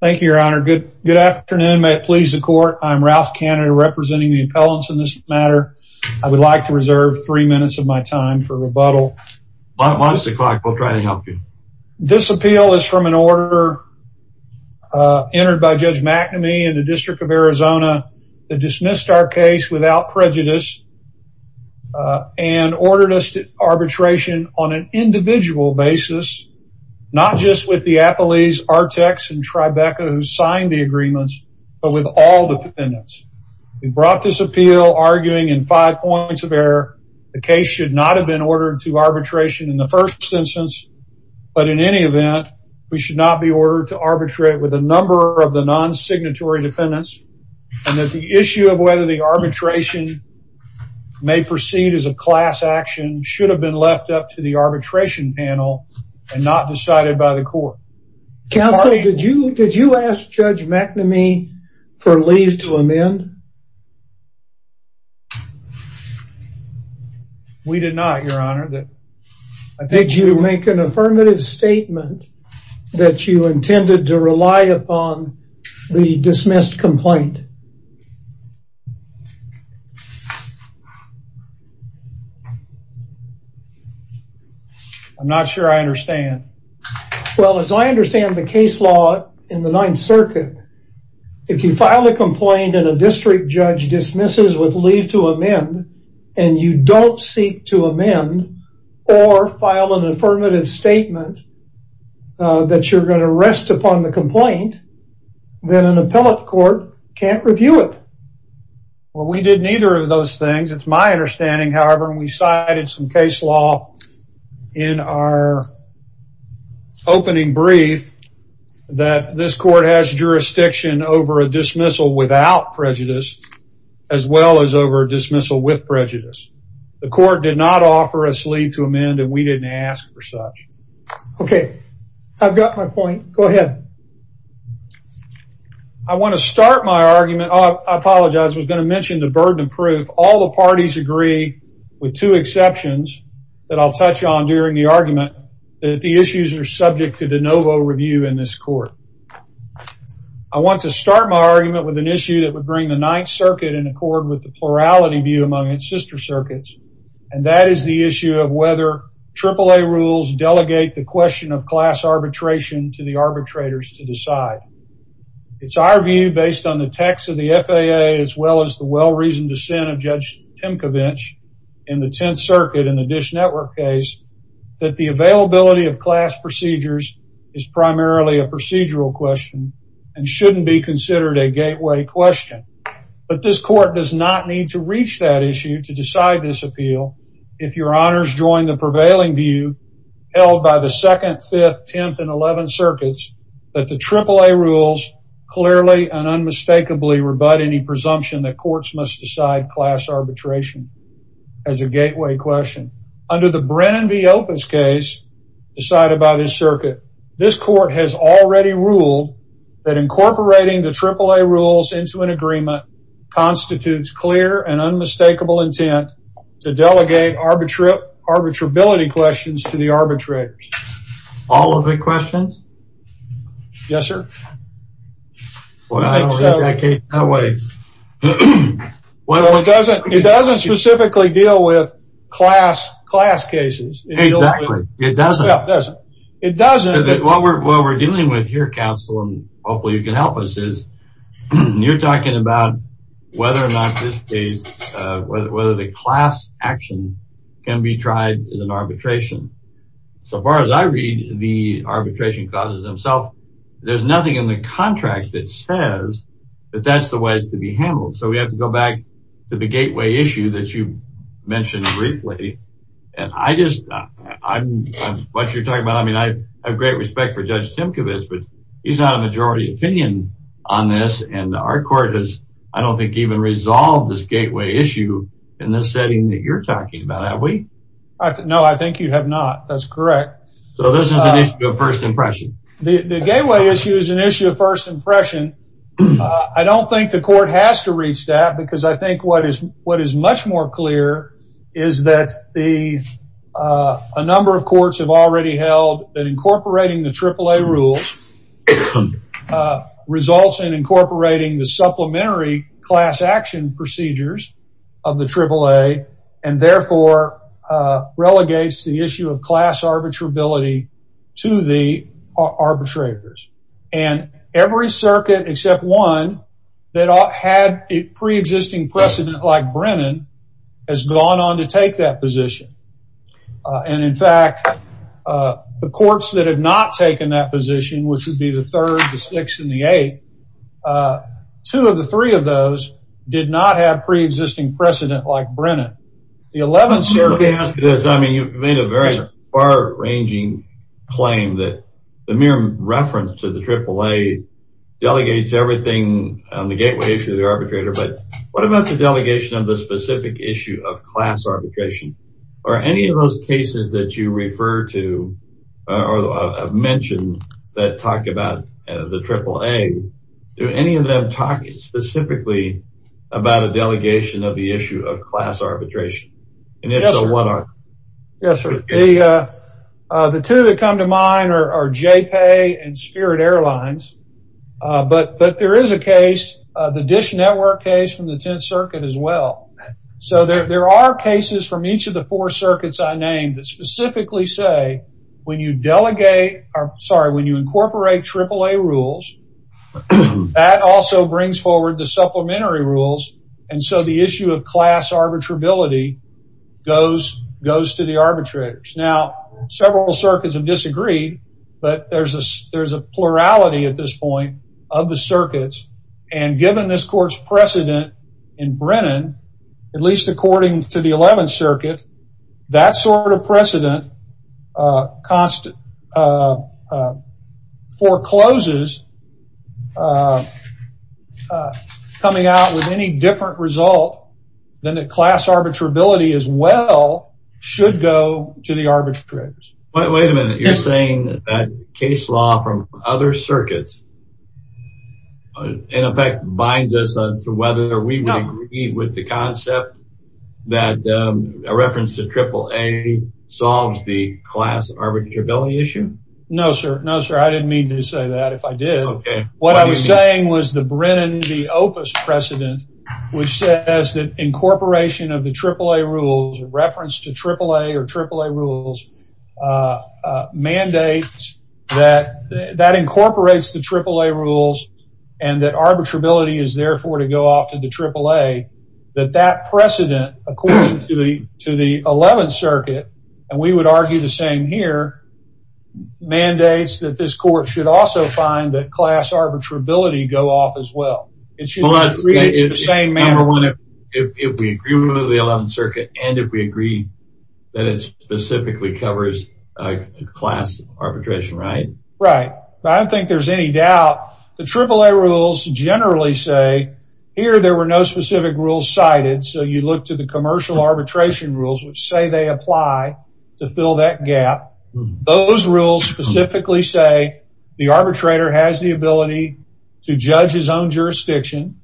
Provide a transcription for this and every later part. Thank you, Your Honor. Good afternoon. May it please the court. I'm Ralph Canada, representing the appellants in this matter. I would like to reserve three minutes of my time for rebuttal. Why don't you try to help you? This appeal is from an order entered by Judge McNamee in the District of Arizona that dismissed our case without prejudice and ordered us to arbitration on an appellee's Artex and Tribeca who signed the agreements, but with all defendants. We brought this appeal arguing in five points of error, the case should not have been ordered to arbitration in the first instance. But in any event, we should not be ordered to arbitrate with a number of the non signatory defendants. And that the issue of whether the arbitration may proceed as a class action should have been left up to the arbitration panel and not decided by the court. Counselor, did you did you ask Judge McNamee for leave to amend? We did not, Your Honor. Did you make an affirmative statement that you intended to rely upon the dismissed complaint? I'm not sure I understand. Well, as I understand the case law in the Ninth Circuit, if you file a complaint and a district judge dismisses with leave to amend, and you don't seek to amend or file an affirmative statement that you're going to rest upon the complaint, then an appellate court can't review it. Well, we did neither of those things. It's my understanding, however, when we cited some case law in our opening brief, that this court has jurisdiction over a dismissal without prejudice, as well as over dismissal with prejudice. The court did not offer us leave to amend and we didn't ask for such. Okay, I've got my point. Go ahead. I want to start my argument. I apologize. I was going to mention the burden of proof. All the parties agree with two exceptions that I'll touch on during the argument, that the issues are subject to de novo review in this court. I want to start my argument with an issue that would bring the Ninth Circuit in accord with the plurality view among its sister circuits. And that is the issue of whether AAA rules delegate the question of class arbitration to the arbitrators to decide. It's our view, based on the text of the FAA, as well as the well-reasoned dissent of Judge Timkovich in the network case, that the availability of class procedures is primarily a procedural question and shouldn't be considered a gateway question. But this court does not need to reach that issue to decide this appeal if your honors join the prevailing view held by the 2nd, 5th, 10th, and 11th Circuits that the AAA rules clearly and unmistakably rebut any presumption that courts must decide class arbitration as a gateway question. Under the Brennan v. Opens case decided by this circuit, this court has already ruled that incorporating the AAA rules into an agreement constitutes clear and unmistakable intent to delegate arbitrability questions to the arbitrators. All of the questions? Yes, sir. It doesn't specifically deal with class cases. Exactly. It doesn't. What we're dealing with here, counsel, and hopefully you can help us, is you're talking about whether or not as I read the arbitration clauses themselves, there's nothing in the contract that says that that's the way it's to be handled. So we have to go back to the gateway issue that you mentioned briefly. And I just, what you're talking about, I mean, I have great respect for Judge Timkovich, but he's not a majority opinion on this, and our court has, I don't think, even resolved this gateway issue in this setting that you're talking about, have you? So this is an issue of first impression. The gateway issue is an issue of first impression. I don't think the court has to reach that, because I think what is much more clear is that a number of courts have already held that incorporating the AAA rules results in incorporating the supplementary class action procedures of the AAA, and therefore relegates the issue of class arbitrability to the arbitrators. And every circuit except one that had a pre-existing precedent like Brennan, has gone on to take that position. And in fact, the courts that have not taken that position, which would be the third, the sixth, and the eighth, two of the three of those did not have pre-existing precedent like Brennan. The eleventh circuit... I mean, you've made a very far-ranging claim that the mere reference to the AAA delegates everything on the gateway issue of the arbitrator, but what about the delegation of the specific issue of class arbitration? Are any of those cases that you refer to or have mentioned that talk about the AAA, do any of them talk specifically about a delegation of the issue of class arbitration? Yes, sir. The two that come to mind are JPEI and Spirit Airlines. But there is a case, the Dish Network case from the 10th Circuit as well. So there are cases from each of the four circuits I named that specifically say when you delegate, sorry, when you incorporate AAA rules, that also brings forward the supplementary rules. And so the issue of class arbitrability goes to the arbitrators. Now, several circuits have disagreed, but there's a plurality at this point of the circuits. And given this court's precedent in Brennan, at least according to the 11th Circuit, that sort of precedent forecloses coming out with any different result than the class arbitrability as well should go to the arbitrators. Wait a minute, you're saying that case law from other circuits, in effect, binds us on whether we would agree with the concept that a reference to AAA solves the class arbitrability issue? No, sir. No, sir. I didn't mean to say that. If I did, what I was saying was the Brennan v. Opus precedent, which says that incorporation of the AAA rules, reference to AAA or AAA rules, mandates that incorporates the AAA rules and that arbitrability is therefore to go off to the AAA, that that precedent, according to the 11th Circuit, and we would argue the same here, mandates that this court should also find that class arbitrability go off as well. It should be treated in the same manner. Number one, if we agree with the 11th Circuit and if we agree that it specifically covers class arbitration, right? Right. I don't think there's any doubt. The AAA rules generally say, here, there were no specific rules cited, so you look to the commercial arbitration rules, which say they apply to fill that gap. Those rules specifically say the arbitrator has the ability to judge his own jurisdiction,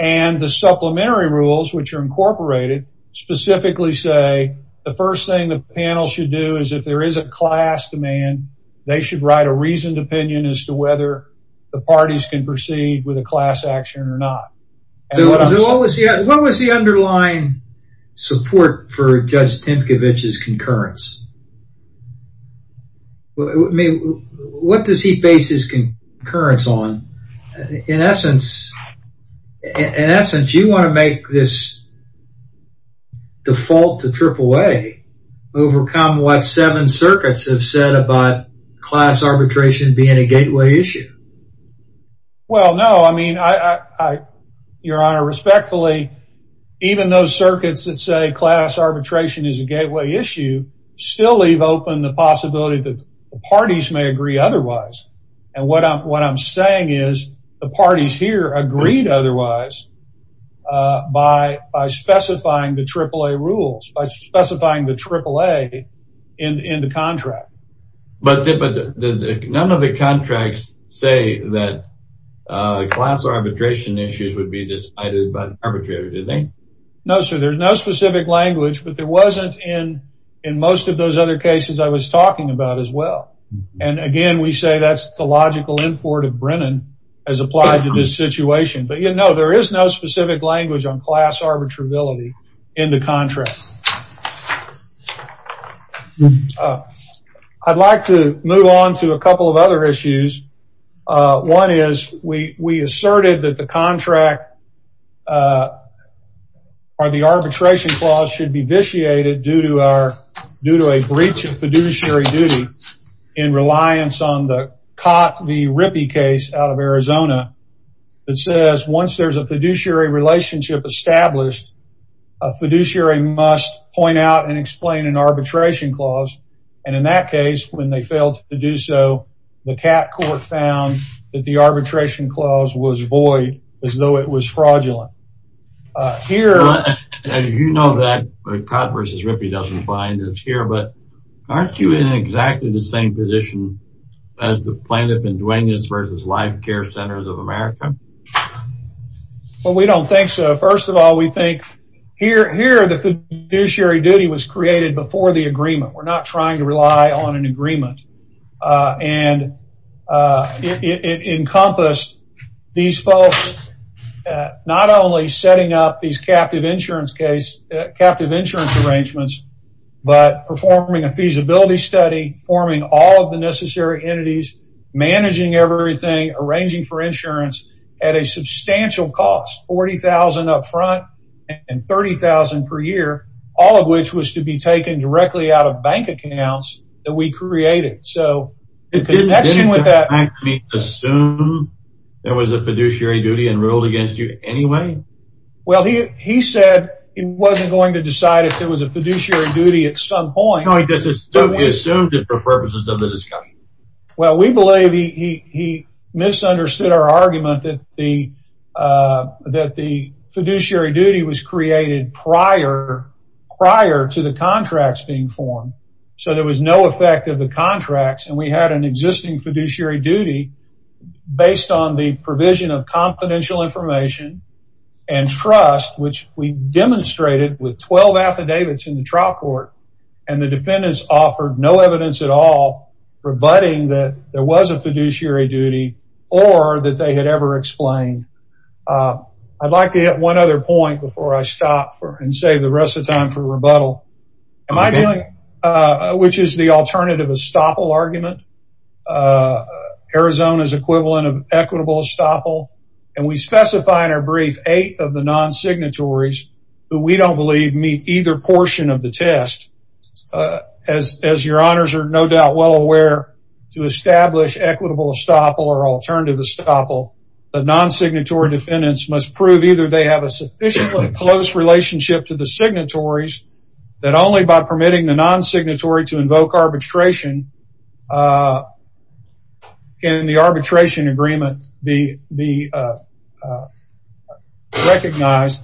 and the supplementary rules, which are incorporated, specifically say the first thing the panel should do is if there is a class demand, they should write a reasoned opinion as to whether the parties can proceed with a class action or not. So what was the underlying support for Judge Tymkiewicz's concurrence? What does he base his concurrence on? In essence, you want to make this default to AAA, overcome what seven circuits have said about class arbitration being a gateway issue. Well, no. I mean, Your Honor, respectfully, even those circuits that say class arbitration is a gateway issue still leave open the possibility that the parties may agree otherwise. And what I'm saying is the parties here agreed otherwise, by specifying the AAA rules, by specifying the AAA in the contract. But none of the contracts say that class arbitration issues would be decided by an arbitrator, do they? No, sir. There's no specific language, but there wasn't in most of those other cases I was talking about as well. And again, we say that's the logical import of Brennan as applied to this situation. But you know, there is no specific language on class arbitrability in the contract. I'd like to move on to a couple of other issues. One is we asserted that the contract or the arbitration clause should be vitiated due to our due to a breach of fiduciary duty in reliance on the Rippey case out of Arizona that says once there's a fiduciary relationship established, a fiduciary must point out and explain an arbitration clause. And in that case, when they failed to do so, the cat court found that the arbitration clause was void as though it was fraudulent. Here, as you know, that Codd versus Rippey doesn't bind us here, but aren't you in exactly the same position as the plaintiff in Duenas versus Life Care Centers of America? Well, we don't think so. First of all, we think here the fiduciary duty was created before the agreement. We're not trying to rely on an agreement. And it encompassed these folks not only setting up these captive insurance arrangements, but performing a feasibility study, forming all of the necessary entities, managing everything, arranging for insurance at a substantial cost, $40,000 up front and $30,000 per year, all of which was to be taken directly out of bank accounts that we created. Did the bank assume there was a fiduciary duty and ruled against you anyway? Well, he said he wasn't going to decide if there was a fiduciary duty at some point. He assumed it for purposes of the discussion. Well, we believe he misunderstood our argument that the fiduciary duty was created prior to the contracts being formed. So there was no effect of the contracts, and we had an existing fiduciary duty based on the provision of and trust, which we demonstrated with 12 affidavits in the trial court, and the defendants offered no evidence at all rebutting that there was a fiduciary duty or that they had ever explained. I'd like to hit one other point before I stop and save the rest of time for rebuttal, which is the alternative estoppel argument. Arizona's equivalent of equitable estoppel, and we specify in our brief eight of the non-signatories who we don't believe meet either portion of the test. As your honors are no doubt well aware, to establish equitable estoppel or alternative estoppel, the non-signatory defendants must prove either they have a sufficiently close relationship to the signatories, that only by permitting the non-signatory to invoke arbitration can the arbitration agreement be recognized,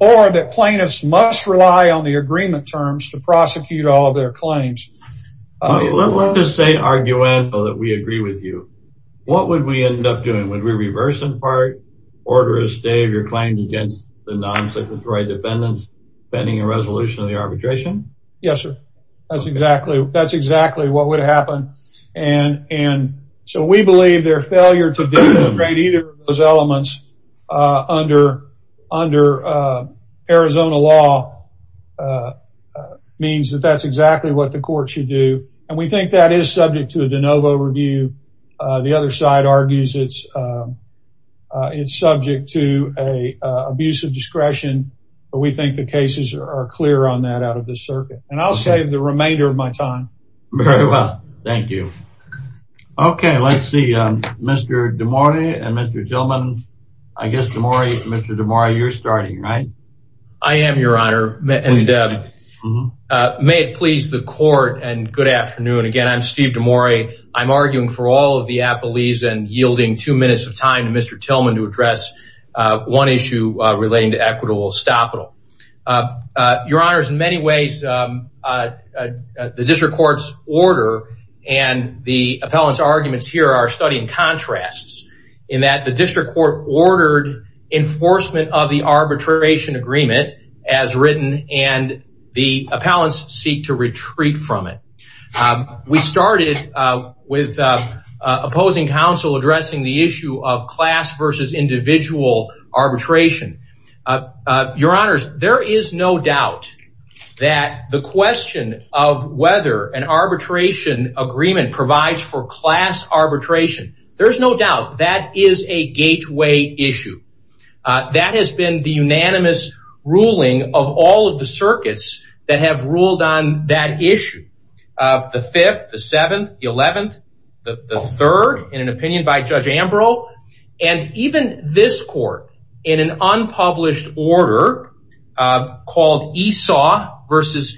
or that plaintiffs must rely on the agreement terms to prosecute all of their claims. Let's just say, arguable, that we agree with you. What would we end up doing? Would we reverse in part, order a stay of your claim against the non-signatory defendants, pending a resolution of the case? That's exactly what would happen, and so we believe their failure to demonstrate either of those elements under Arizona law means that that's exactly what the court should do, and we think that is subject to a de novo review. The other side argues it's subject to an abuse of discretion, but we think the remainder of my time. Very well, thank you. Okay, let's see, Mr. DeMori and Mr. Tillman. I guess Mr. DeMori, you're starting, right? I am, your honor, and may it please the court, and good afternoon again. I'm Steve DeMori. I'm arguing for all of the appellees and yielding two minutes of time to Mr. Tillman to address one issue relating to equitable estoppel. Your honor, in many ways, the district court's order and the appellant's arguments here are studying contrasts in that the district court ordered enforcement of the arbitration agreement as written, and the appellants seek to retreat from it. We started with opposing counsel addressing the issue of class versus individual arbitration. Your honors, there is no doubt that the question of whether an arbitration agreement provides for class arbitration, there's no doubt that is a gateway issue. That has been the unanimous ruling of all of the circuits that have ruled on that issue. The fifth, the seventh, the eleventh, the third, in an opinion by Judge Ambrose, and even this court in an unpublished order called Esau versus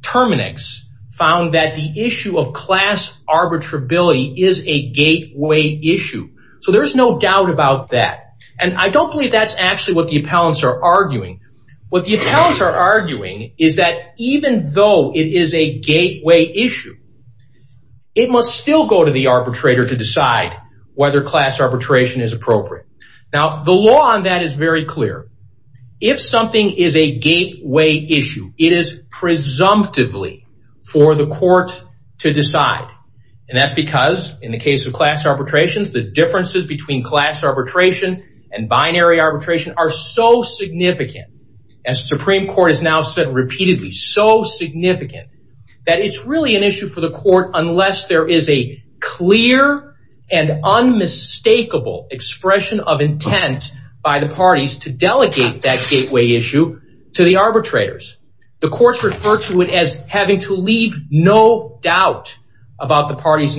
Terminix found that the issue of class arbitrability is a gateway issue. So there's no doubt about that, and I don't believe that's actually what the appellants are arguing. What the appellants are arguing is that even though it is a gateway issue, it must still go to the arbitrator to decide whether class arbitration is appropriate. Now, the law on that is very clear. If something is a gateway issue, it is presumptively for the court to decide, and that's because in the case of class arbitrations, the differences between class arbitration and binary arbitration are so significant, as the Supreme Court has now said repeatedly, so significant that it's really an issue for the court unless there is a clear and unmistakable expression of intent by the parties to delegate that gateway issue to the arbitrators. The courts refer to it as having to leave no doubt about the party's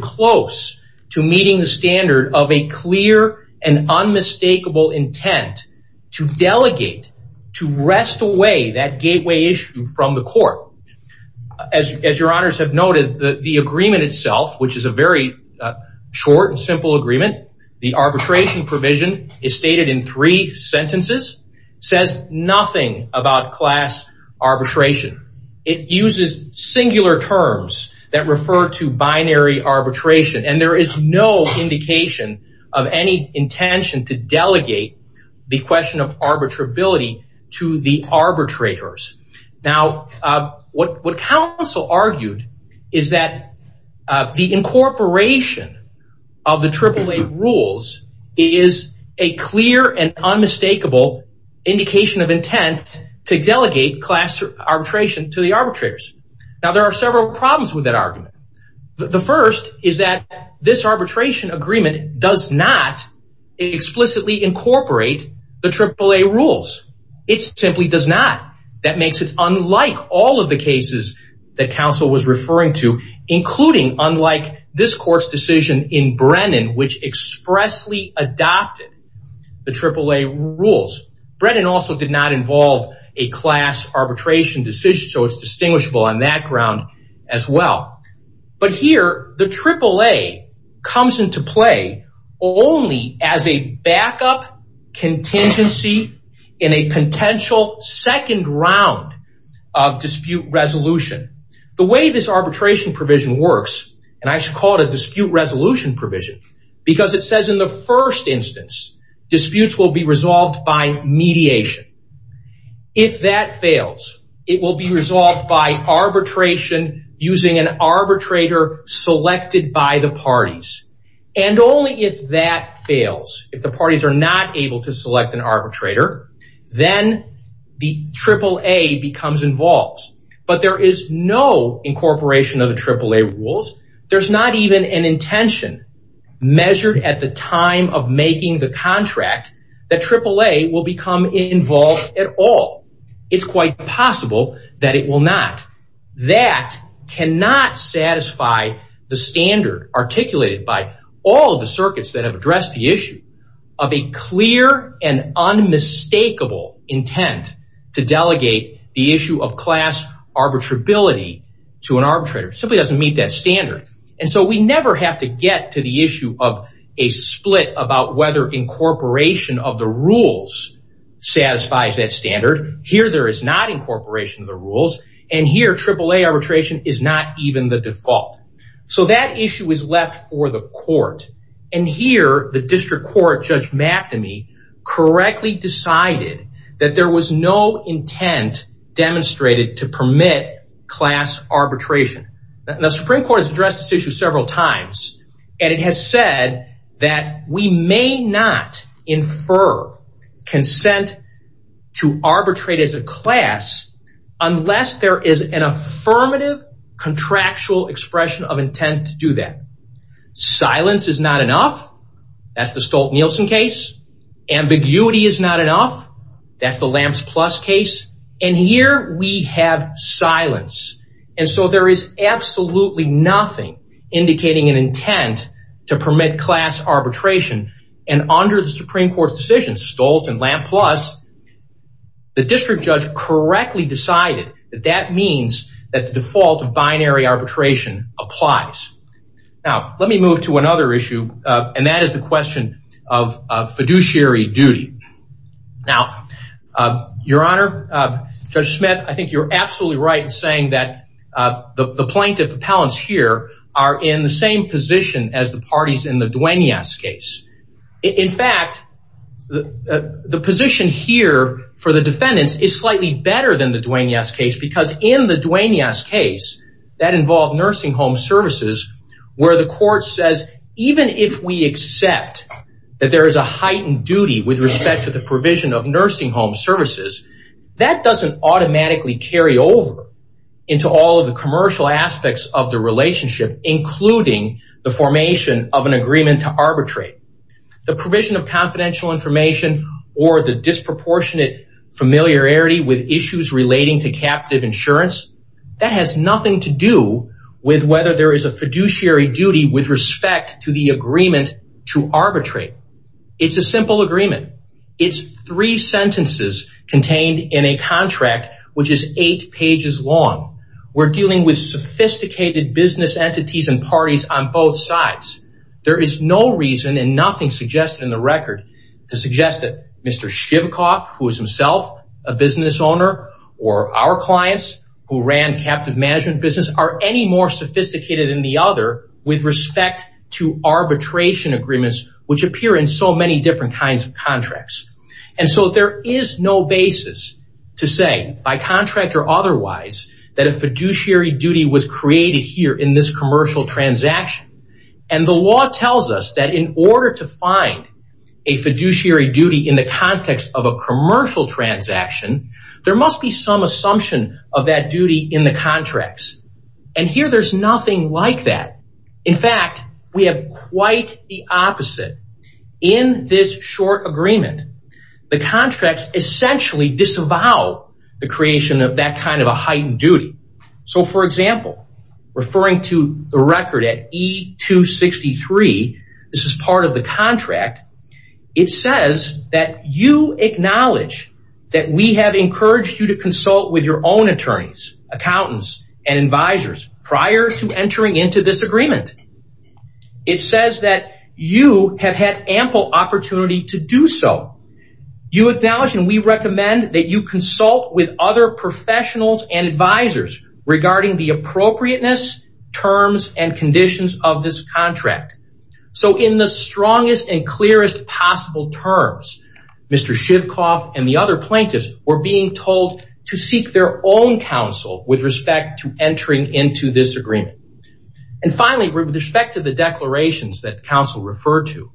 close to meeting the standard of a clear and unmistakable intent to delegate, to wrest away that gateway issue from the court. As your honors have noted, the agreement itself, which is a very short and simple agreement, the arbitration provision is stated in three sentences, says nothing about class arbitration. It uses singular terms that refer to binary arbitration, and there is no indication of any intention to delegate the question of arbitrability to the arbitrators. Now, what counsel argued is that the incorporation of the AAA rules is a clear and unmistakable indication of intent to delegate class arbitration to the arbitrators. Now, there are several problems with that argument. The first is that this arbitration agreement does not explicitly incorporate the AAA rules. It simply does not. That makes it unlike all of the cases that counsel was referring to, including, unlike this court's decision in Brennan, which expressly adopted the AAA rules. Brennan also did not involve a class arbitration decision, so it's distinguishable on that ground as well. But here, the AAA comes into play only as a backup contingency in a potential second round of dispute resolution. The way this arbitration provision works, and I should call it a dispute resolution provision, because it says in the first instance, disputes will be resolved by mediation. If that fails, it will be resolved by arbitration using an arbitrator selected by the parties. And only if that fails, if the parties are not able to select an arbitrator, then the AAA becomes involved. But there is no incorporation of the AAA rules. There's not even an intention measured at the time of making the contract that AAA will become involved at all. It's quite possible that it will not. That cannot satisfy the standard articulated by all of the circuits that have addressed the issue of a clear and unmistakable intent to delegate the issue of class arbitrability to an arbitrator. It simply doesn't meet that standard. And so, we never have to get to the issue of a split about whether incorporation of the rules satisfies that standard. Here, there is not incorporation of the rules, and here, the issue is left for the court. And here, the district court, Judge McNamee, correctly decided that there was no intent demonstrated to permit class arbitration. The Supreme Court has addressed this issue several times, and it has said that we may not infer consent to arbitrate as a class unless there is an affirmative contractual expression of intent to do that. Silence is not enough. That's the Stolt-Nielsen case. Ambiguity is not enough. That's the LAMPS Plus case. And here, we have silence. And so, there is absolutely nothing indicating an intent to permit class arbitration. And under the Supreme Court's decision, Stolt and LAMPS Plus, the district judge correctly decided that that means that the default of binary arbitration applies. Now, let me move to another issue, and that is the question of fiduciary duty. Now, Your Honor, Judge Smith, I think you're absolutely right in saying that the plaintiff appellants here are in the same position as the parties in the Duenas case. In fact, the position here for the defendants is slightly better than the Duenas case, because in the Duenas case, that involved nursing home services, where the court says, even if we accept that there is a heightened duty with respect to the provision of nursing home services, that doesn't automatically carry over into all of the commercial aspects of the confidential information or the disproportionate familiarity with issues relating to captive insurance. That has nothing to do with whether there is a fiduciary duty with respect to the agreement to arbitrate. It's a simple agreement. It's three sentences contained in a contract, which is eight pages long. We're dealing with sophisticated business entities and parties on to suggest that Mr. Shivkoff, who is himself a business owner, or our clients who ran captive management business, are any more sophisticated than the other with respect to arbitration agreements, which appear in so many different kinds of contracts. There is no basis to say, by contract or otherwise, that a fiduciary duty was created here in this commercial transaction. The law tells us that in order to find a fiduciary duty in the context of a commercial transaction, there must be some assumption of that duty in the contracts. Here, there's nothing like that. In fact, we have quite the opposite. In this short agreement, the contracts essentially disavow the creation of that kind of a heightened duty. For example, referring to the record at E263, this is part of the contract, it says that you acknowledge that we have encouraged you to consult with your own attorneys, accountants, and advisors prior to entering into this agreement. It says that you have had ample opportunity to do so. You acknowledge and we recommend that you consult with other professionals and advisors regarding the appropriateness, terms, and conditions of this contract. In the strongest and clearest possible terms, Mr. Shivkoff and the other plaintiffs were being told to seek their own counsel with respect to entering into this agreement. Finally, with respect to the declarations that counsel referred to,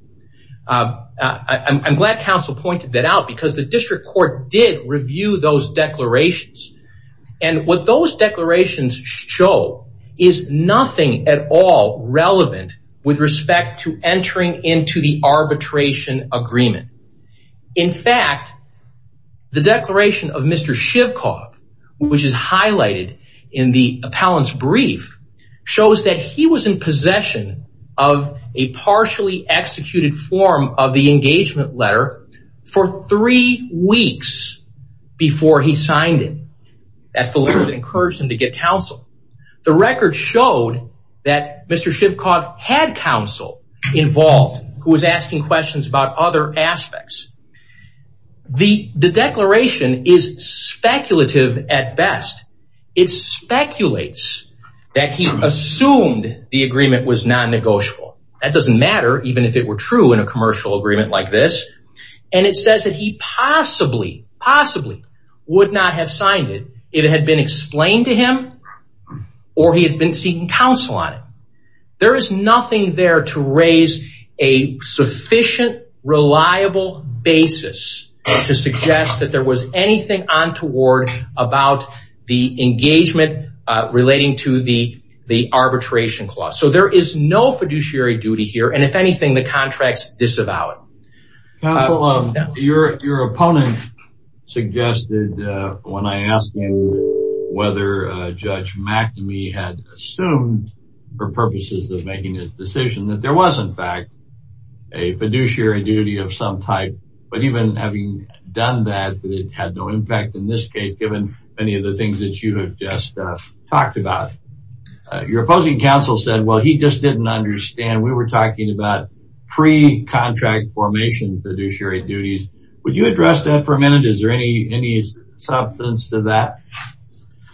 I'm glad counsel pointed that out because the district court did review those declarations. What those declarations show is nothing at all relevant with respect to entering into the arbitration agreement. In fact, the declaration of Mr. Shivkoff, which is highlighted in the appellant's brief, shows that he was in possession of a partially executed form of the engagement letter for three weeks before he signed it. That's the letter that encouraged him to get counsel. The record showed that Mr. Shivkoff had counsel involved who was asking questions about other aspects. The declaration is speculative at best. It speculates that he assumed the agreement was non-negotiable. That doesn't matter even if it were true in a commercial agreement like this. It says that he possibly would not have signed it if it had been explained to him or he had been seeking counsel on it. There is nothing there to raise a sufficient, reliable basis to suggest that there was anything untoward about the engagement relating to the contract. Counsel, your opponent suggested when I asked him whether Judge McNamee had assumed for purposes of making his decision that there was, in fact, a fiduciary duty of some type, but even having done that, it had no impact in this case given many of the things that you have just talked about. Your opposing counsel said, well, he just didn't understand. We were talking about pre-contract formation fiduciary duties. Would you address that for a minute? Is there any substance to that?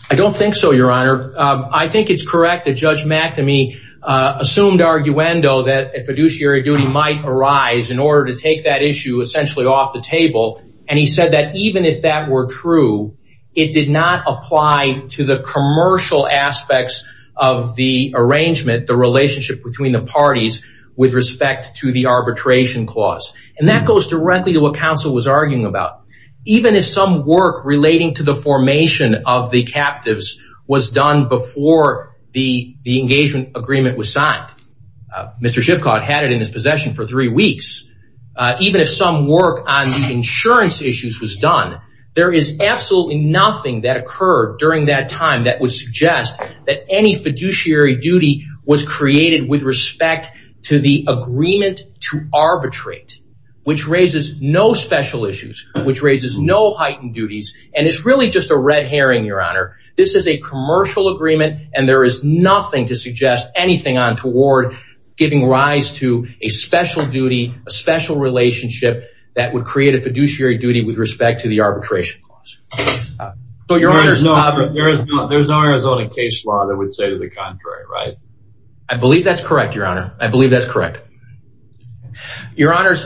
I don't think so, Your Honor. I think it's correct that Judge McNamee assumed arguendo that a fiduciary duty might arise in order to take that issue essentially off the table. He said that even if that were true, it did not apply to the commercial aspects of the arrangement, the relationship between the parties with respect to the arbitration clause. That goes directly to what counsel was arguing about. Even if some work relating to the formation of the captives was done before the engagement agreement was signed, Mr. Schiffcott had it in his possession for three weeks. Even if some work on the insurance issues was done, there is nothing that occurred during that time that would suggest that any fiduciary duty was created with respect to the agreement to arbitrate, which raises no special issues, which raises no heightened duties. It's really just a red herring, Your Honor. This is a commercial agreement and there is nothing to suggest anything on toward giving rise to a special duty, a special relationship that would create a fiduciary duty with respect to the arbitration clause. But Your Honor, there's no Arizona case law that would say to the contrary, right? I believe that's correct, Your Honor. I believe that's correct. Your Honors,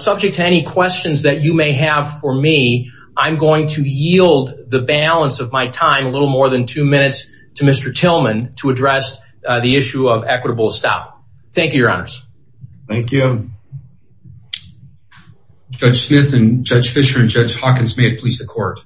subject to any questions that you may have for me, I'm going to yield the balance of my time, a little more than two minutes to Mr. Tillman to address the issue of equitable stop. Thank you, Your Honors. Thank you. Judge Smith and Judge Fischer and Judge Hawkins, may it please the court.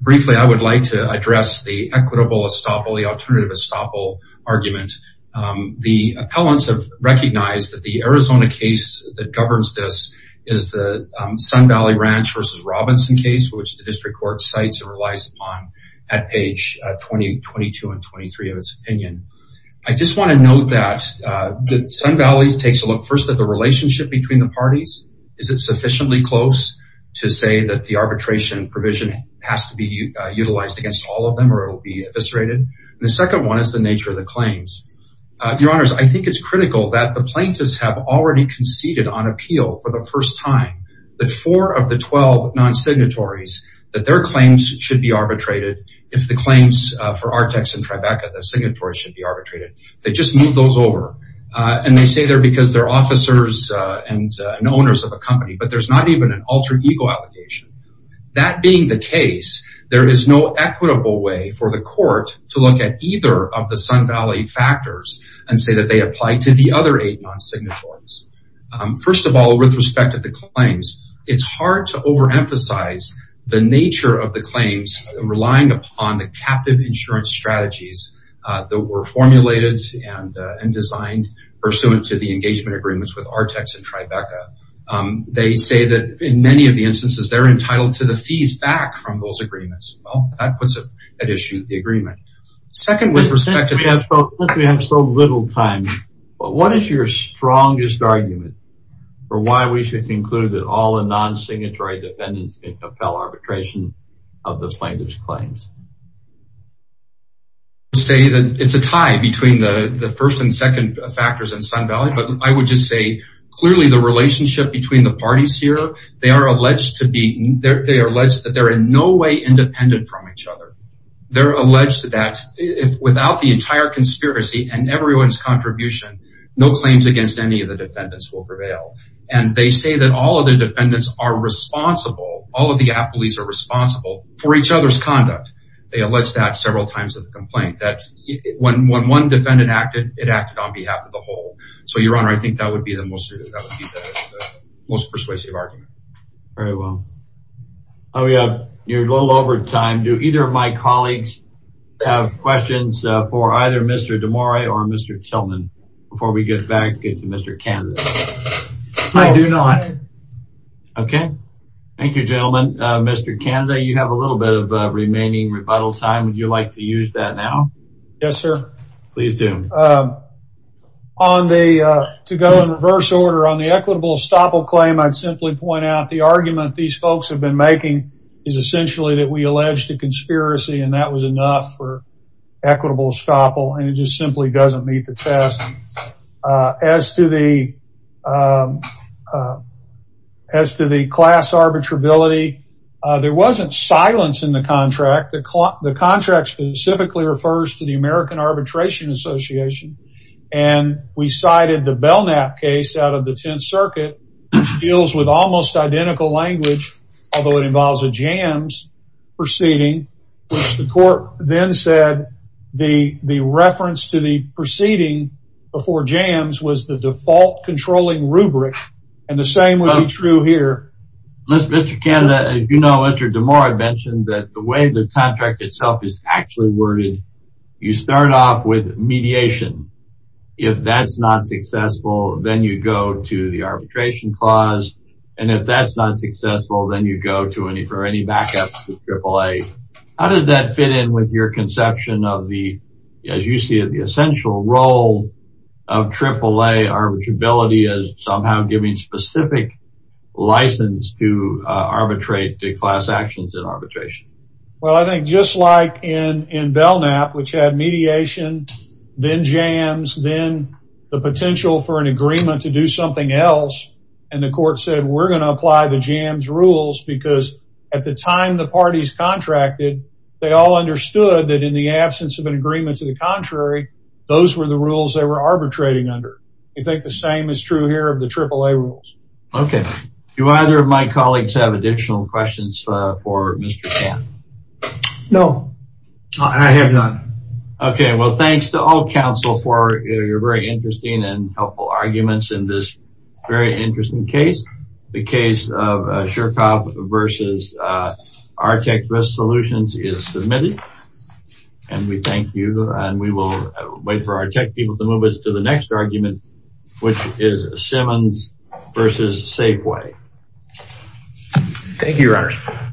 Briefly, I would like to address the equitable estoppel, the alternative estoppel argument. The appellants have recognized that the Arizona case that governs this is the Sun Valley Ranch versus Robinson case, which the district court cites and relies upon at page 22 and 23 of its opinion. I just want to note that the Sun Valley takes a look first at the relationship between the parties. Is it sufficiently close to say that the arbitration provision has to be utilized against all of them or it will be eviscerated? And the second one is the nature of the claims. Your Honors, I think it's critical that the plaintiffs have already conceded on appeal for the first time that four of the 12 non-signatories, that their claims should be arbitrated. If the claims for Artex and Tribeca, the signatories should be arbitrated. They just move those over. And they say they're because they're officers and owners of a company, but there's not even an alter ego allegation. That being the case, there is no equitable way for the court to look at either of the Sun Valley factors and say that they apply to the other eight non-signatories. First of all, with respect to the claims, it's hard to overemphasize the nature of the claims. They say that in many of the instances, they're entitled to the fees back from those agreements. Well, that puts at issue the agreement. Second, with respect to- Since we have so little time, what is your strongest argument for why we should conclude that all the non-signatory defendants can compel arbitration of the plaintiff's claims? Say that it's a tie between the first and second factors in Sun Valley. But I would just say, clearly the relationship between the parties here, they are alleged that they're in no way independent from each other. They're alleged that without the entire conspiracy and everyone's contribution, no claims against any of the defendants will prevail. And they say that all of the defendants are responsible, all of the appellees are responsible for each other's conduct. They allege that several times with the complaint that when one defendant acted, it acted on behalf of the whole. So, Your Honor, I think that would be the most persuasive argument. Very well. Oh, yeah. You're a little over time. Do either of my colleagues have questions for either Mr. DeMora or Mr. Tillman before we get back to Mr. Canada? I do not. Okay. Thank you, gentlemen. Mr. Canada, you have a little bit of remaining rebuttal time. Would you like to use that now? Yes, sir. Please do. To go in reverse order, on the equitable estoppel claim, I'd simply point out the argument these folks have been making is essentially that we alleged a conspiracy and that was enough for equitable estoppel. And it just simply doesn't meet the test. As to the class arbitrability, there wasn't silence in the contract. The contract specifically refers to the American Arbitration Association. And we cited the Belknap case out of the 10th Circuit, which deals with almost identical language, although it involves a jams proceeding. The court then said the reference to the proceeding before jams was the default controlling rubric. And the same would be true here. Mr. Canada, as you know, as Mr. DeMora mentioned, that the way the contract itself is actually worded, you start off with mediation. If that's not successful, then you go to the arbitration clause. And if that's not successful, then you How does that fit in with your conception of the, as you see it, the essential role of AAA arbitrability as somehow giving specific license to arbitrate the class actions in arbitration? Well, I think just like in Belknap, which had mediation, then jams, then the potential for an agreement to do something else. And the court said, we're going to apply the jams rules because at the time the parties contracted, they all understood that in the absence of an agreement to the contrary, those were the rules they were arbitrating under. I think the same is true here of the AAA rules. Okay. Do either of my colleagues have additional questions for Mr. Canada? No. I have none. Okay. Well, thanks to all counsel for your very interesting and helpful arguments in this very interesting case. The case of Shercoff versus Artec Risk Solutions is submitted. And we thank you and we will wait for our tech people to move us to the next argument, which is Simmons versus Safeway. Thank you, Your Honor.